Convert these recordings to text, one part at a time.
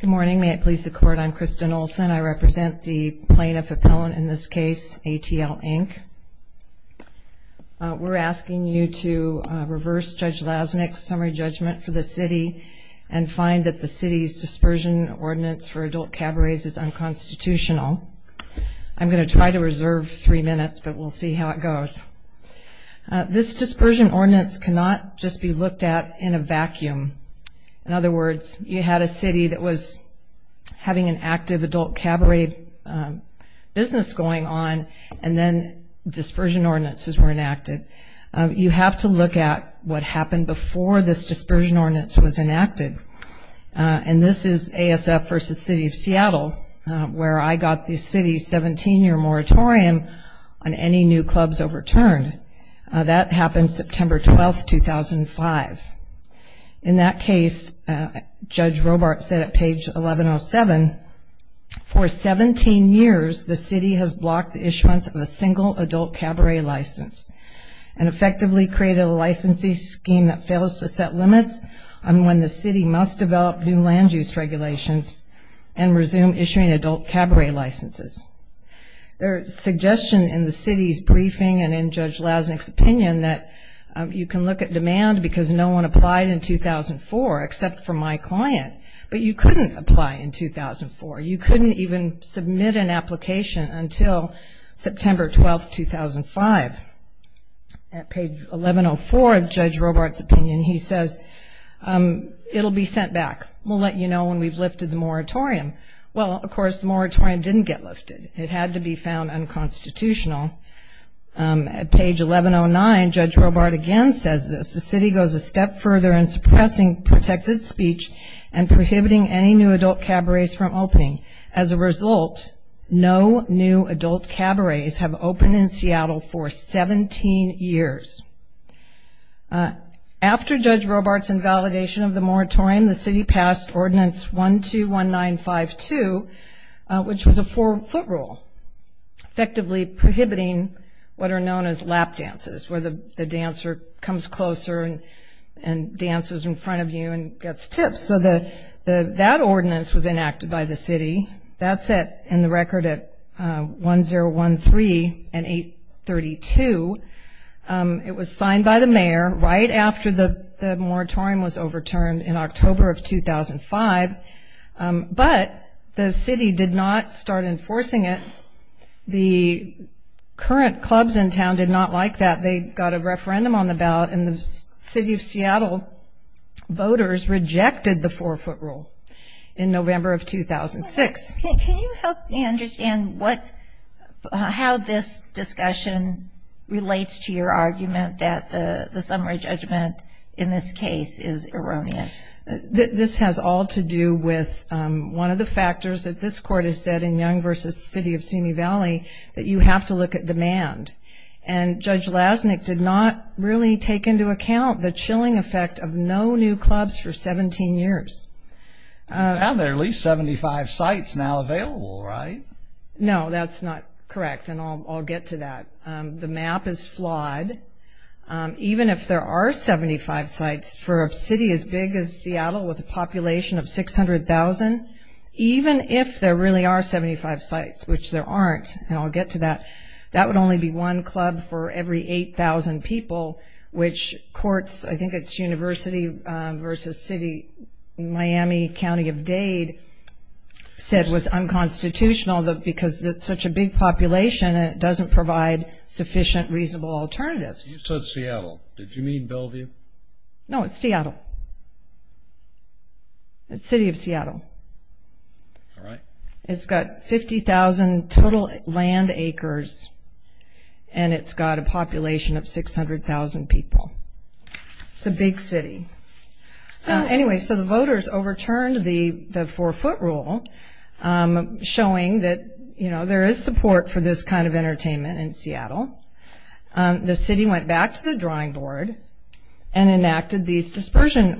Good morning. May it please the Court, I'm Kristen Olson. I represent the plaintiff appellant in this case, ATL Inc. We're asking you to reverse Judge Lasnik's summary judgment for the city and find that the city's dispersion ordinance for adult cabarets is unconstitutional. I'm going to try to reserve three minutes but we'll see how it goes. This dispersion ordinance cannot just be that was having an active adult cabaret business going on and then dispersion ordinances were enacted. You have to look at what happened before this dispersion ordinance was enacted and this is ASF v. City of Seattle where I got the city's 17-year moratorium on any new clubs overturned. That happened September 12, 2005. In that case, Judge Robart said at page 1107, for 17 years the city has blocked the issuance of a single adult cabaret license and effectively created a licensee scheme that fails to set limits on when the city must develop new land use regulations and resume issuing adult cabaret licenses. There is suggestion in the demand because no one applied in 2004 except for my client, but you couldn't apply in 2004. You couldn't even submit an application until September 12, 2005. At page 1104 of Judge Robart's opinion, he says it'll be sent back. We'll let you know when we've lifted the moratorium. Well, of course, the moratorium didn't get lifted. It had to be found unconstitutional. At page 1109, Judge Robart again says this, the city goes a step further in suppressing protected speech and prohibiting any new adult cabarets from opening. As a result, no new adult cabarets have opened in Seattle for 17 years. After Judge Robart's invalidation of the moratorium, the city passed ordinance 121952, which was a four-foot rule, effectively prohibiting what are known as lap dances, where the dancer comes closer and dances in front of you and gets tips. So that ordinance was enacted by the city. That's in the record at 1013 and 832. It was signed by the mayor right after the moratorium was overturned in October of 2005, but the current clubs in town did not like that. They got a referendum on the ballot and the city of Seattle voters rejected the four-foot rule in November of 2006. Can you help me understand how this discussion relates to your argument that the summary judgment in this case is erroneous? This has all to do with one of the factors that this court has said in Young v. City of Simi Valley, that you have to look at demand. And Judge Lasnik did not really take into account the chilling effect of no new clubs for 17 years. Now there are at least 75 sites now available, right? No, that's not correct, and I'll get to that. The map is flawed. Even if there are really are 75 sites, which there aren't, and I'll get to that, that would only be one club for every 8,000 people, which courts, I think it's University v. City Miami County of Dade, said was unconstitutional because it's such a big population it doesn't provide sufficient reasonable alternatives. You said Seattle, did you mean Seattle? It's got 50,000 total land acres and it's got a population of 600,000 people. It's a big city. Anyway, so the voters overturned the four-foot rule showing that, you know, there is support for this kind of entertainment in Seattle. The city went back to the drawing board and enacted these to certain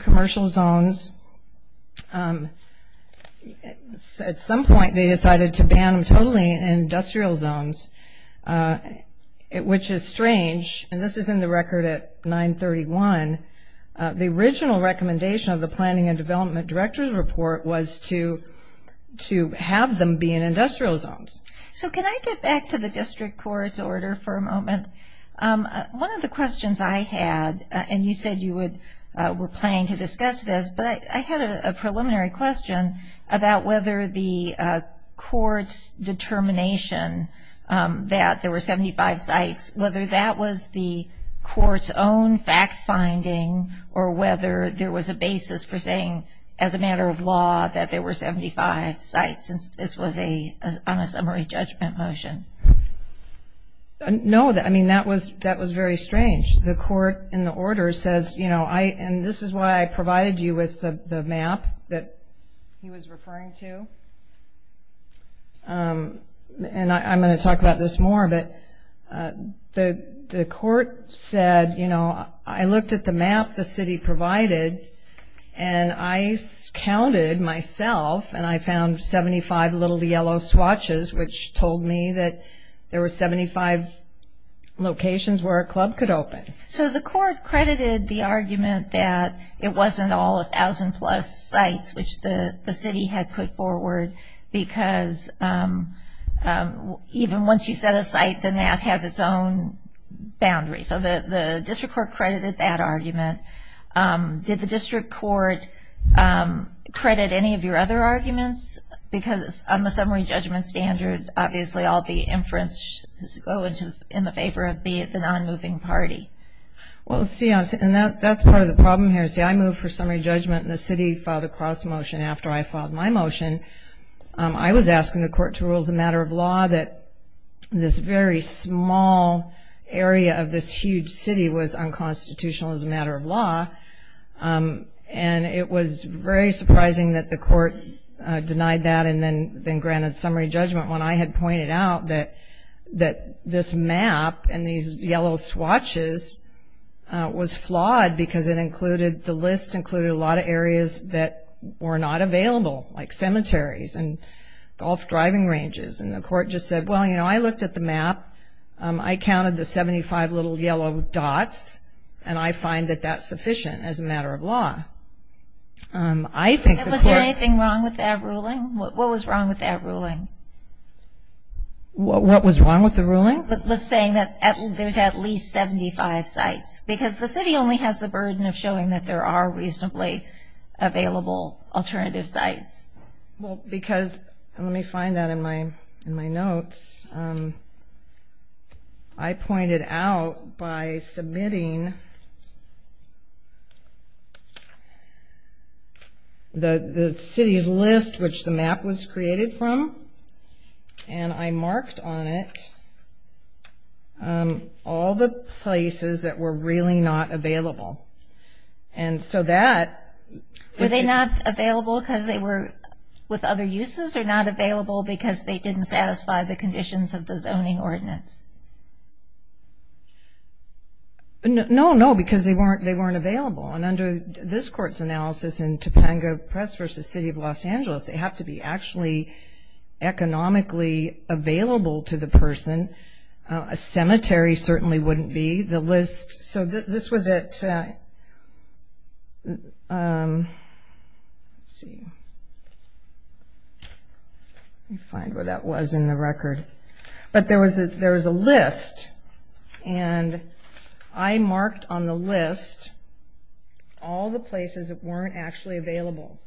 commercial zones. At some point they decided to ban them totally in industrial zones, which is strange, and this is in the record at 931. The original recommendation of the Planning and Development Director's Report was to have them be in industrial zones. So can I get back to the district court's order for a minute? I know we're planning to discuss this, but I had a preliminary question about whether the court's determination that there were 75 sites, whether that was the court's own fact finding or whether there was a basis for saying as a matter of law that there were 75 sites since this was a summary judgment motion. No, I mean that was very strange. The court in the order says, you know, and this is why I provided you with the map that he was referring to, and I'm going to talk about this more, but the court said, you know, I looked at the map the city provided and I counted myself and I found 75 little yellow swatches, which were a club could open. So the court credited the argument that it wasn't all a thousand plus sites, which the city had put forward because even once you set a site, the map has its own boundaries. So the district court credited that argument. Did the district court credit any of your other arguments? Because on the summary judgment standard, obviously all the inferences go in the favor of the non-moving party. Well, see, and that's part of the problem here. See, I moved for summary judgment and the city filed a cross motion after I filed my motion. I was asking the court to rule as a matter of law that this very small area of this huge city was unconstitutional as a matter of law, and it was very surprising that the court denied that and then then granted summary judgment when I had pointed out that that this map and these yellow swatches was flawed because it included, the list included, a lot of areas that were not available, like cemeteries and golf driving ranges, and the court just said, well, you know, I looked at the map. I counted the 75 little yellow dots and I find that that's sufficient as a matter of law. Was there anything wrong with that ruling? What was wrong with that ruling? What was wrong with the ruling? With saying that there's at least 75 sites, because the city only has the burden of showing that there are reasonably available alternative sites. Well, because, let me find that in my in my notes, I pointed out by submitting the city's list, which the map was created from, and I marked on it all the places that were really not available, and so that... Were they not available because they were with other uses or not available because they didn't satisfy the conditions of the zoning ordinance? No, no, because they weren't they weren't available, and under this court's analysis in Topanga Press v. City of Los Angeles, they have to be actually economically available to the person. A cemetery certainly wouldn't be. The list, so this was it. Let's see. Let me find where that was in the record, but there was a there was a list, and I marked on the list all the places that weren't actually available,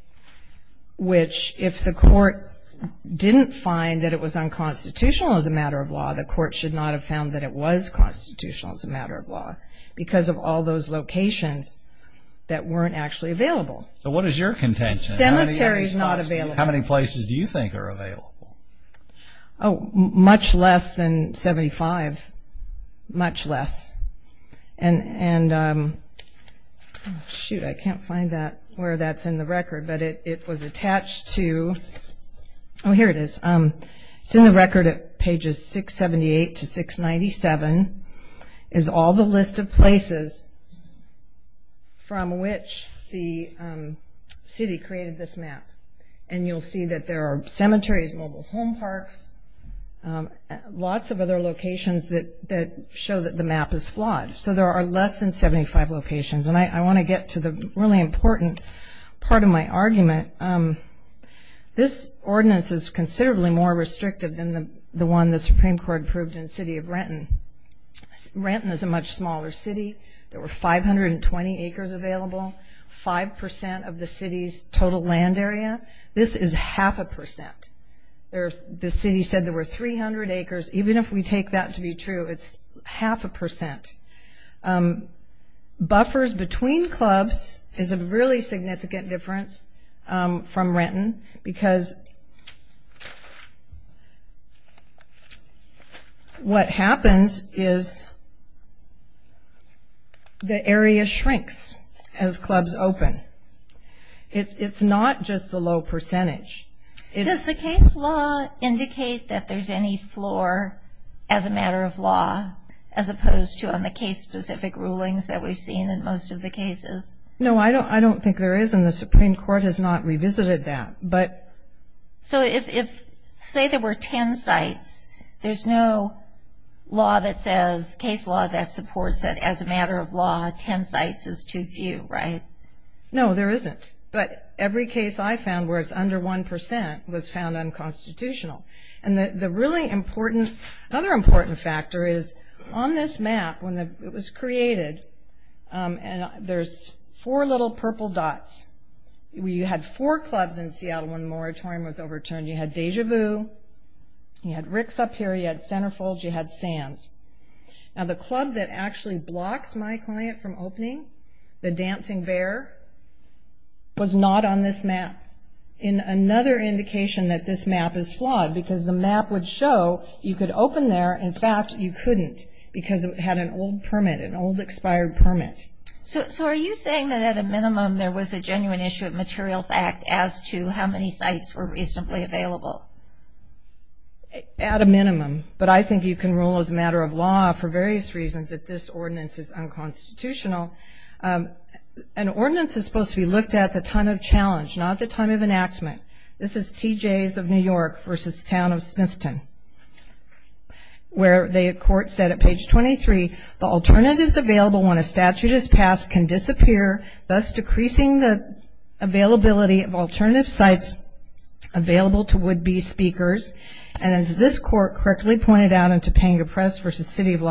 which if the court didn't find that it was unconstitutional as a matter of law, the court should not have found that it was constitutional as a matter of law, because of all those locations that weren't actually available. So what is your contention? Cemetery is not available. How many places do you think are available? Oh, much less than 75. Much less. And, shoot, I can't find that where that's in the record, but it was attached to... Oh, here it is. It's in the record at pages 678 to 697 is all the list of places from which the city created this map, and you'll see that there are cemeteries, mobile home parks, lots of other locations that show that the map is flawed. So there are less than 75 locations, and I want to get to the really important part of my argument. This ordinance is considerably more restrictive than the one the Supreme Court approved in City of Renton. Renton is a much smaller city. There were 520 acres available, 5% of the city's total land area. This is half a percent. The city said there were 300 acres. Even if we take that to be true, it's half a percent. Buffers between clubs is a really significant difference from Renton, because what happens is the area shrinks as clubs open. It's not just the low percentage. Does the case law indicate that there's any flaw as a matter of law, as opposed to on the case-specific rulings that we've seen in most of the cases? No, I don't think there is, and the Supreme Court has not revisited that. So if, say, there were 10 sites, there's no case law that supports that as a matter of law, 10 sites is too few, right? No, there isn't. But every case I found where it's under 1% was found unconstitutional. And the really important, other important factor is, on this map, when it was created, there's four little purple dots. You had four clubs in Seattle when the moratorium was overturned. You had Deja Vu, you had Ricks up here, you had Centerfold, you had Sands. Now the club that actually blocked my client from opening, the Dancing Bear, was not on this map. Another indication that this map is had an old permit, an old expired permit. So are you saying that at a minimum there was a genuine issue of material fact as to how many sites were reasonably available? At a minimum, but I think you can rule as a matter of law for various reasons that this ordinance is unconstitutional. An ordinance is supposed to be looked at the time of challenge, not the time of enactment. This is T.J.'s of New York v. Town of Smithton, where the court said at page 23, the alternatives available when a statute is passed can disappear, thus decreasing the availability of alternative sites available to would-be speakers. And as this court correctly pointed out in Topanga Press v. City of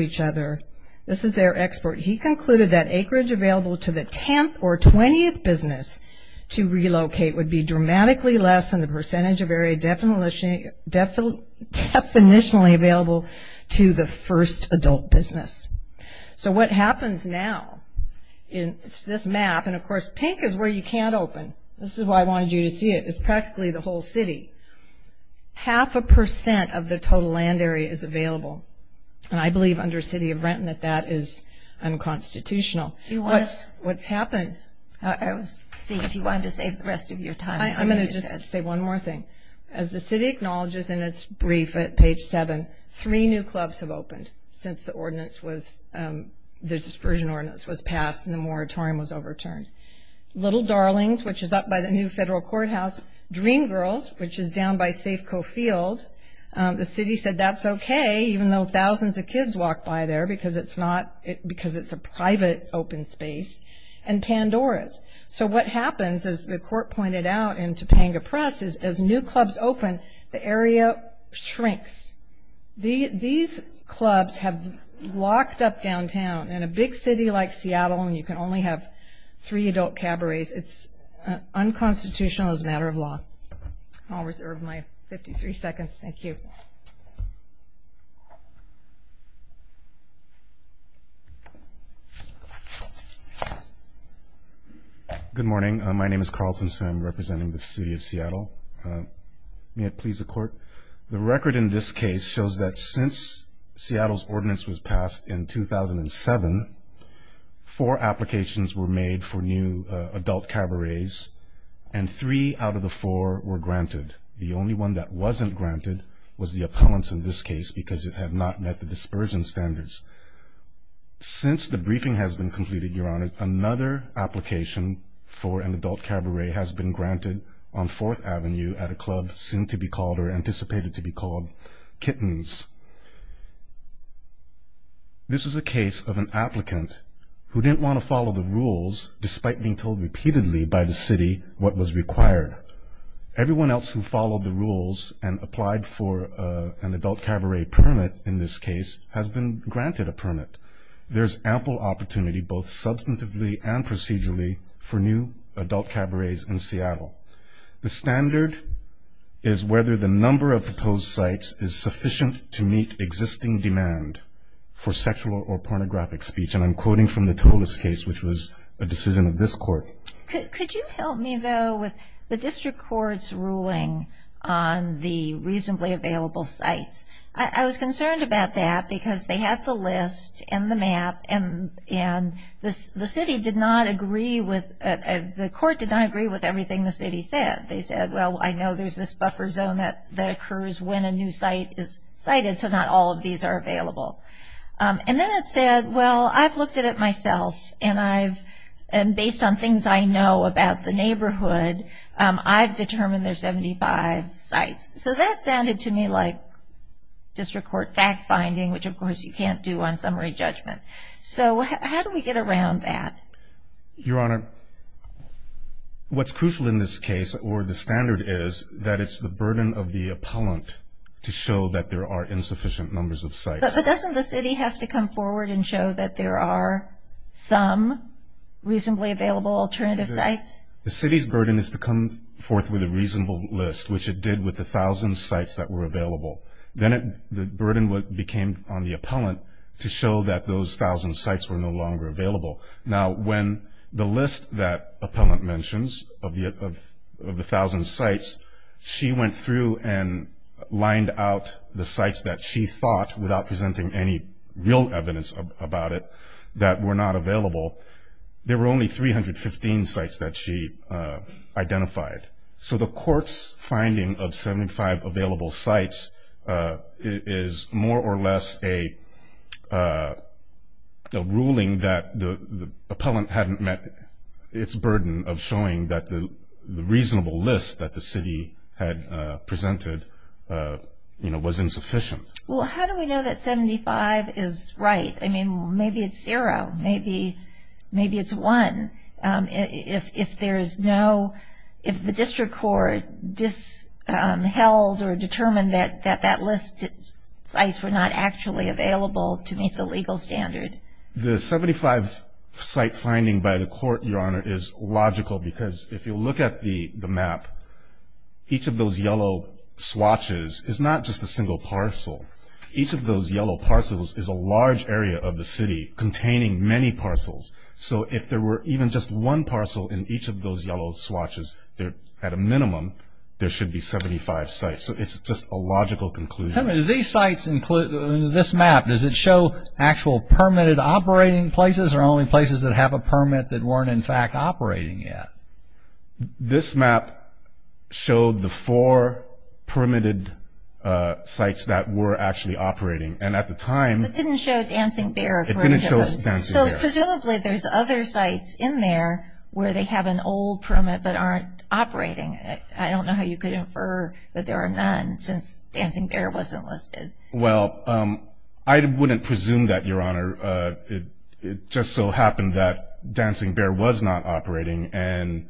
each other, this is their export. He concluded that acreage available to the 10th or 20th business to relocate would be dramatically less than the percentage of area definitionally available to the first adult business. So what happens now in this map, and of course pink is where you can't open. This is why I wanted you to see it. It's practically the whole city. Half a percent of the total land area is available, and I believe under City of Renton that that is unconstitutional. What's happened? I was seeing if you wanted to save the rest of your time. I'm going to just say one more thing. As the city acknowledges in its brief at page 7, three new clubs have opened since the ordinance was, the dispersion ordinance was passed and the moratorium was overturned. Little Darlings, which is up by the new federal courthouse, Dream Girls, which is down by Coffield, the city said that's okay even though thousands of kids walk by there because it's a private open space, and Pandora's. So what happens, as the court pointed out in Topanga Press, is as new clubs open, the area shrinks. These clubs have locked up downtown, and a big city like Seattle, and you can only have three adult cabarets, it's unconstitutional as a Good morning, my name is Carlton, so I'm representing the city of Seattle. May it please the court, the record in this case shows that since Seattle's ordinance was passed in 2007, four applications were made for new adult cabarets, and three out of the four were granted. The only one that wasn't granted was the appellants in this case, because it had not met the dispersion standards. Since the briefing has been completed, your honor, another application for an adult cabaret has been granted on 4th Avenue at a club soon to be called, or anticipated to be called, Kittens. This is a case of an applicant who didn't want to follow the rules, despite being told repeatedly by the city what was required. Everyone else who followed the rules and applied for an adult cabaret permit in this case has been granted a permit. There's ample opportunity, both substantively and procedurally, for new adult cabarets in Seattle. The standard is whether the number of proposed sites is sufficient to meet existing demand for sexual or pornographic speech, and I'm quoting from the Tolis case, which was a decision of this court. Could you help me, though, with the district court's ruling on the reasonably available sites? I was concerned about that, because they had the list and the map, and the city did not agree with, the court did not agree with everything the city said. They said, well, I know there's this buffer zone that occurs when a new site is cited, so not all of the sites are available. And then it said, well, I've looked at it myself, and I've, and based on things I know about the neighborhood, I've determined there's 75 sites. So that sounded to me like district court fact-finding, which of course you can't do on summary judgment. So how do we get around that? Your Honor, what's crucial in this case, or the standard is, that it's the burden of the appellant to show that there are insufficient numbers of sites. But doesn't the city have to come forward and show that there are some reasonably available alternative sites? The city's burden is to come forth with a reasonable list, which it did with the thousand sites that were available. Then the burden became on the appellant to show that those thousand sites were no longer available. Now when the list that appellant mentions of the thousand sites, she went through and lined out the sites that she thought, without presenting any real evidence about it, that were not available, there were only 315 sites that she identified. So the court's finding of 75 available sites is more or less a ruling that the appellant hadn't met its burden of showing that the reasonable list that the city had presented, you know, was insufficient. Well, how do we know that 75 is right? I mean, maybe it's zero, maybe it's one. If there's no, if the district court disheld or determined that that list sites were not actually available to meet the legal standard. The 75 site finding by the court, Your Honor, is logical because if you look at the map, each of those yellow swatches is not just a single parcel. Each of those yellow parcels is a large area of the city containing many parcels. So if there were even just one parcel in each of those yellow swatches, there at a minimum there should be 75 sites. So it's just a logical conclusion. These sites include, this map, does it show actual permitted operating places or only places that have a permit that weren't in fact operating yet? This map showed the four permitted sites that were actually operating and at the time. It didn't show Dancing Bear. So presumably there's other sites in there where they have an old permit but aren't operating. I don't know how you could infer that there are none since Dancing Bear wasn't listed. Well, I wouldn't presume that, Your Honor. It just so happened that Dancing Bear was not operating and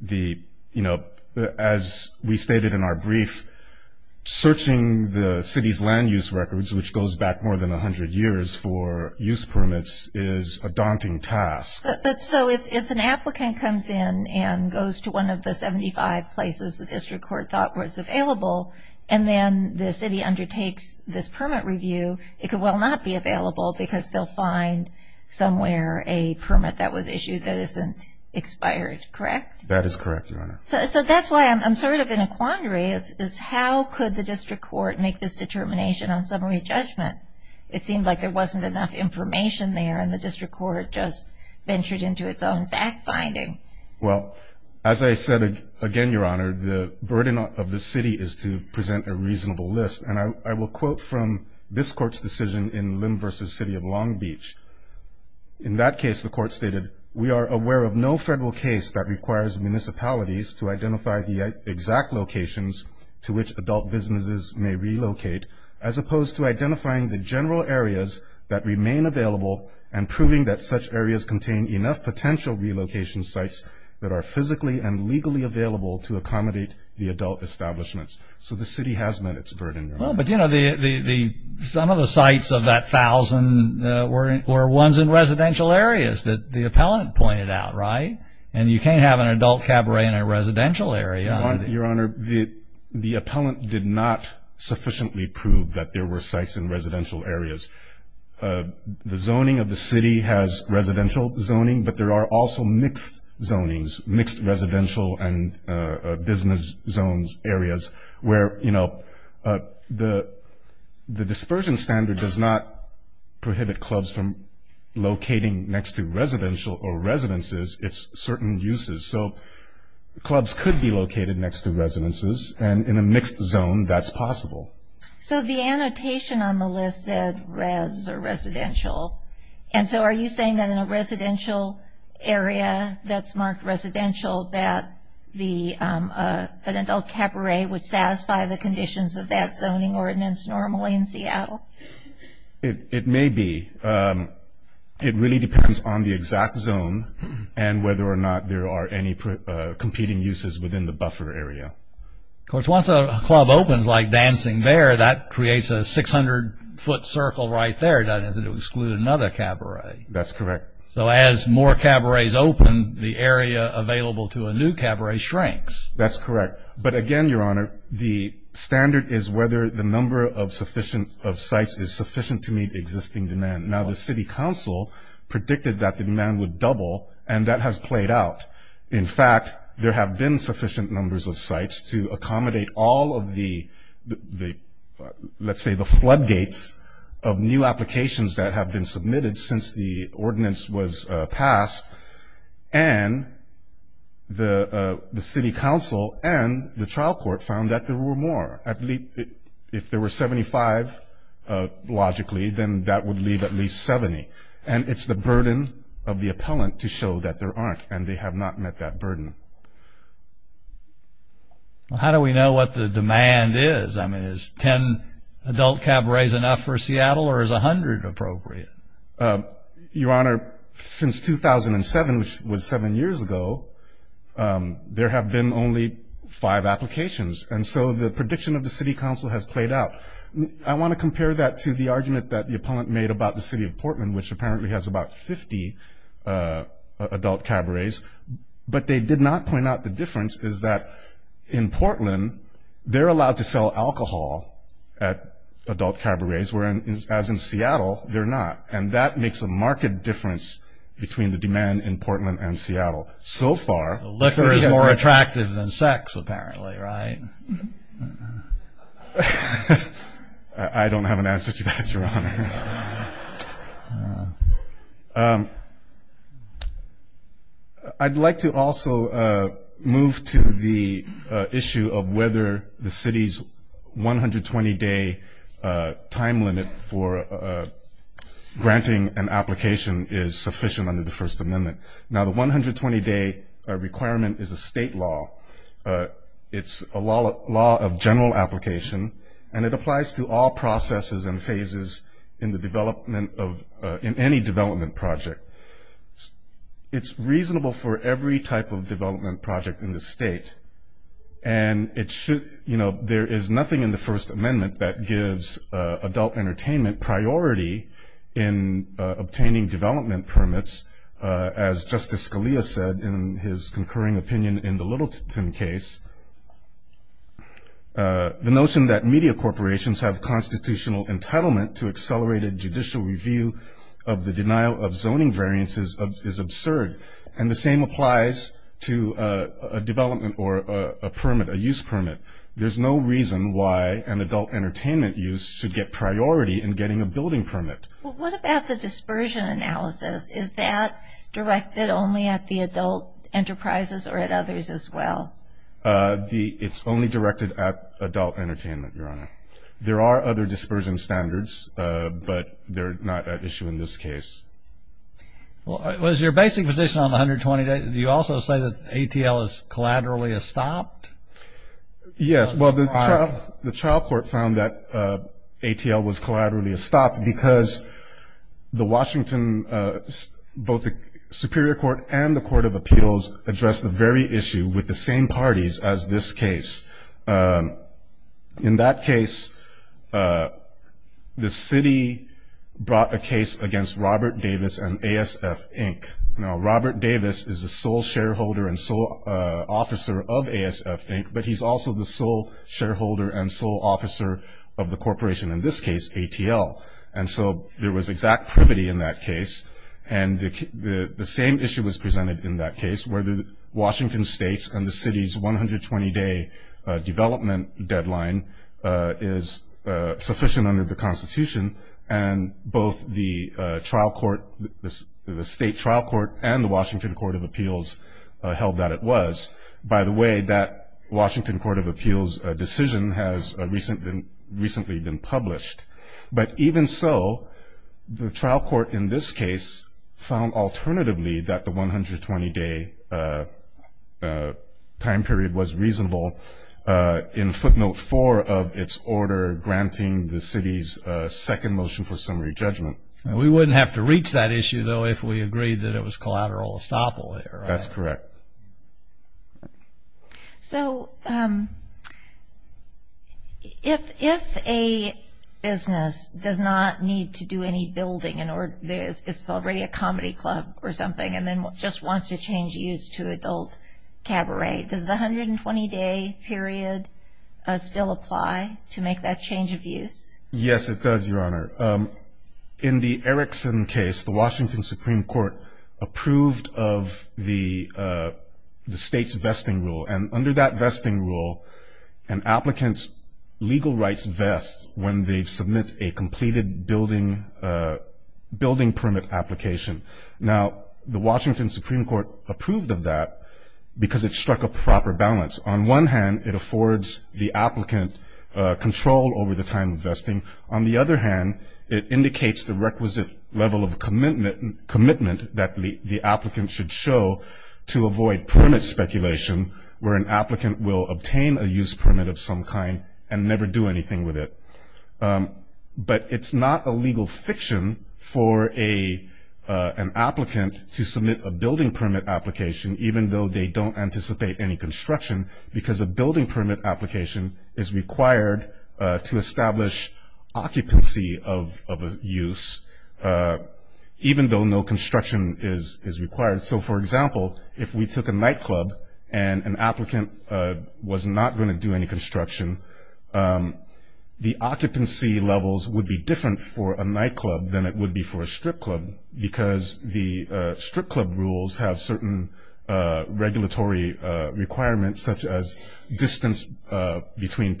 the, you know, as we stated in our brief, searching the city's land use records, which goes back more than 100 years for use permits, is a daunting task. But so if an applicant comes in and goes to one of the 75 places the district court thought was available and then the city undertakes this permit review, it could well not be available because they'll find somewhere a permit that was issued that isn't expired, correct? That is correct, Your Honor. So that's why I'm sort of in a quandary. It's how could the district court make this determination on summary judgment? It seemed like there wasn't enough information there and the district court just ventured into its own fact-finding. Well, as I said again, Your Honor, the burden of the city is to present a reasonable list and I will quote from this court's decision in Lim versus City of Long Beach. In that case, the court stated, we are aware of no federal case that requires municipalities to identify the exact locations to which adult businesses may relocate as opposed to identifying the general areas that remain available and proving that such areas contain enough potential relocation sites that are physically and legally available to accommodate the adult establishments. So the city has met its burden. Well, but you know, some of the sites of that thousand were ones in residential areas that the appellant pointed out, right? And you can't have an adult cabaret in a residential area. Your Honor, the sites in residential areas, the zoning of the city has residential zoning, but there are also mixed zonings, mixed residential and business zones, areas where, you know, the dispersion standard does not prohibit clubs from locating next to residential or residences. It's certain uses. So clubs could be located next to residences and in a mixed zone, that's possible. So the annotation on the list said res or residential. And so are you saying that in a residential area that's marked residential, that the adult cabaret would satisfy the conditions of that zoning ordinance normally in Seattle? It may be. It really depends on the exact zone and whether or not there are any competing uses within the buffer area. Of course, once a club opens like Dancing Bear, that creates a 600 foot circle right there, doesn't it? It would exclude another cabaret. That's correct. So as more cabarets open, the area available to a new cabaret shrinks. That's correct. But again, Your Honor, the standard is whether the number of sufficient of sites is sufficient to meet existing demand. Now, the city council predicted that the demand would have been sufficient numbers of sites to accommodate all of the, let's say, the floodgates of new applications that have been submitted since the ordinance was passed. And the city council and the trial court found that there were more. If there were 75, logically, then that would leave at least 70. And it's the burden of the appellant to show that there aren't, and they have not met that burden. How do we know what the demand is? I mean, is 10 adult cabarets enough for Seattle or is 100 appropriate? Your Honor, since 2007, which was seven years ago, there have been only five applications. And so the prediction of the city council has played out. I want to compare that to the argument that the appellant made about the city of Portman, which apparently has about 50 adult cabarets. But they did not point out the difference is that in Portland, they're allowed to sell alcohol at adult cabarets, whereas in Seattle, they're not. And that makes a marked difference between the demand in Portland and Seattle. So far... The liquor is more attractive than sex, apparently, right? I don't have an answer to that, Your Honor. I'd like to also move to the issue of whether the city's 120-day time limit for granting an application is sufficient under the First Amendment. Now, the 120-day requirement is a state law. It's a law of general application, and it applies to all processes and phases in the development of any development project. It's reasonable for every type of development project in the state. And it should, you know, there is nothing in the First Amendment that gives adult entertainment priority in obtaining development permits, as Justice Scalia said in his concurring opinion in the The notion that media corporations have constitutional entitlement to accelerated judicial review of the denial of zoning variances is absurd. And the same applies to a development or a permit, a use permit. There's no reason why an adult entertainment use should get priority in getting a building permit. What about the dispersion analysis? Is that directed only at the adult enterprises or at others as well? The it's only directed at adult entertainment, Your Honor. There are other dispersion standards, but they're not at issue in this case. Well, it was your basic position on the 120-day. Do you also say that ATL is collaterally a stopped? Yes, well, the trial, the trial court found that ATL was collaterally stopped because the Washington, both the Superior Court and the Court of Human Parties, as this case, in that case, the city brought a case against Robert Davis and ASF, Inc. Now, Robert Davis is the sole shareholder and sole officer of ASF, Inc. But he's also the sole shareholder and sole officer of the corporation, in this case, ATL. And so there was exact privity in that case. And the same issue was presented in that case where the Washington states and the city's 120-day development deadline is sufficient under the Constitution. And both the trial court, the state trial court and the Washington Court of Appeals held that it was. By the way, that Washington Court of Appeals decision has recently been published. But even so, the trial court, in this case, found alternatively that the 120-day time period was reasonable in footnote four of its order, granting the city's second motion for summary judgment. We wouldn't have to reach that issue, though, if we agreed that it was collateral estoppel. That's correct. So if a business does not need to do any building and it's already a comedy club or something and then just wants to change use to adult cabaret, does the 120-day period still apply to make that change of use? Yes, it does, Your Honor. In the Erickson case, the Washington Supreme Court approved of the state's vesting rule. And under that vesting rule, an applicant's legal rights vest when they submit a completed building permit application. Now, the Washington Supreme Court approved of that because it struck a proper balance. On one hand, it affords the applicant control over the time of vesting. On the other hand, it indicates the requisite level of commitment that the applicant should show to avoid permit speculation where an applicant will obtain a use permit of some kind and never do anything with it. But it's not a legal fiction for an applicant to submit a building permit application, even though they don't anticipate any construction, because a building permit application is required to establish occupancy of a use, even though no construction is required. So, for example, if we took a nightclub and an applicant was not going to do any construction, the occupancy levels would be different for a nightclub than it would be for a strip club, because the strip club rules have certain regulatory requirements, such as distance between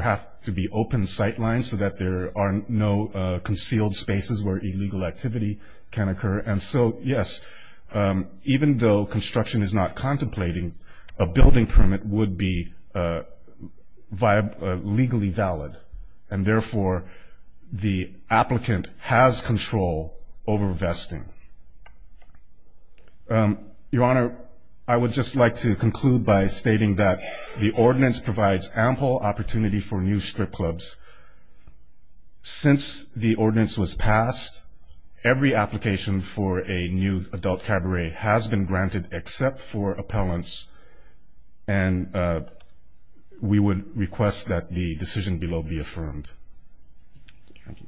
have to be open sight lines so that there are no concealed spaces where illegal activity can occur. And so, yes, even though construction is not contemplating, a building permit would be legally valid. And therefore, the applicant has control over vesting. Your Honor, I would just like to conclude by stating that the ordinance provides ample opportunity for new strip clubs. Since the ordinance was passed, every application for a new adult cabaret has been granted except for appellants, and we would request that the decision below be affirmed. Thank you.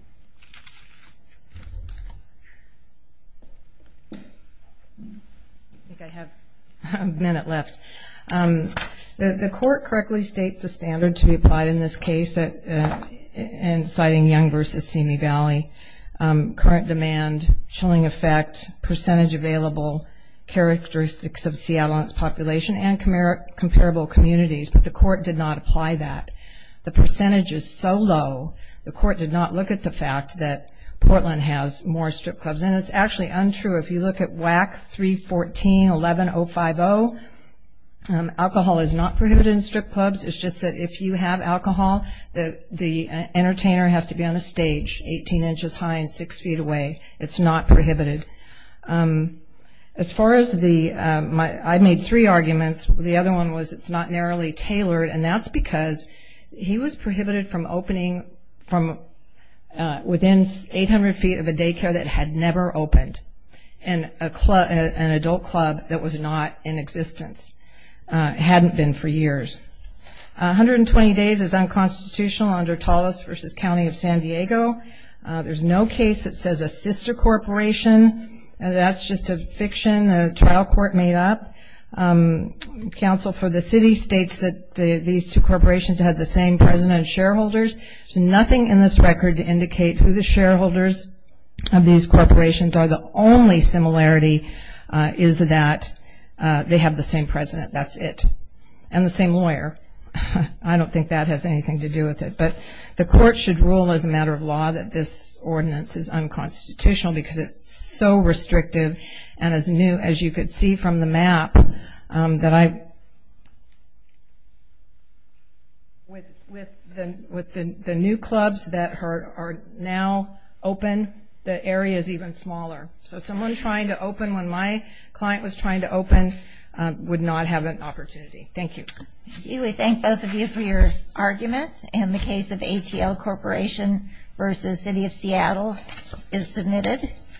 I think I have a minute left. The Court correctly states the standard to be applied in this case, and citing Young v. Simi Valley, current demand, chilling effect, percentage available, characteristics of Seattle's population, and comparable communities. But the Court did not apply that. The percentage is so low, the Court did not look at the fact that Portland has more strip clubs. And it's actually untrue. If you look at WAC 314-11050, alcohol is not prohibited in strip clubs. It's just that if you have alcohol, the entertainer has to be on a stage 18 inches high and 6 feet away. It's not prohibited. As far as the, I made three arguments. The other one was it's not narrowly tailored, and that's because he was prohibited from opening from within 800 feet of a daycare that had never opened in an adult club that was not in existence. It hadn't been for years. 120 days is unconstitutional under Tullis v. County of San Diego. There's no case that says a sister corporation. That's just a fiction the Council for the City states that these two corporations have the same president and shareholders. There's nothing in this record to indicate who the shareholders of these corporations are. The only similarity is that they have the same president. That's it. And the same lawyer. I don't think that has anything to do with it. But the Court should rule as a matter of law that this ordinance is unconstitutional because it's so restrictive. And as new, as you could see from the map, that with the new clubs that are now open, the area is even smaller. So someone trying to open, when my client was trying to open, would not have an opportunity. Thank you. We thank both of you for your argument. And the case of ATL Corporation v. City of Seattle is submitted.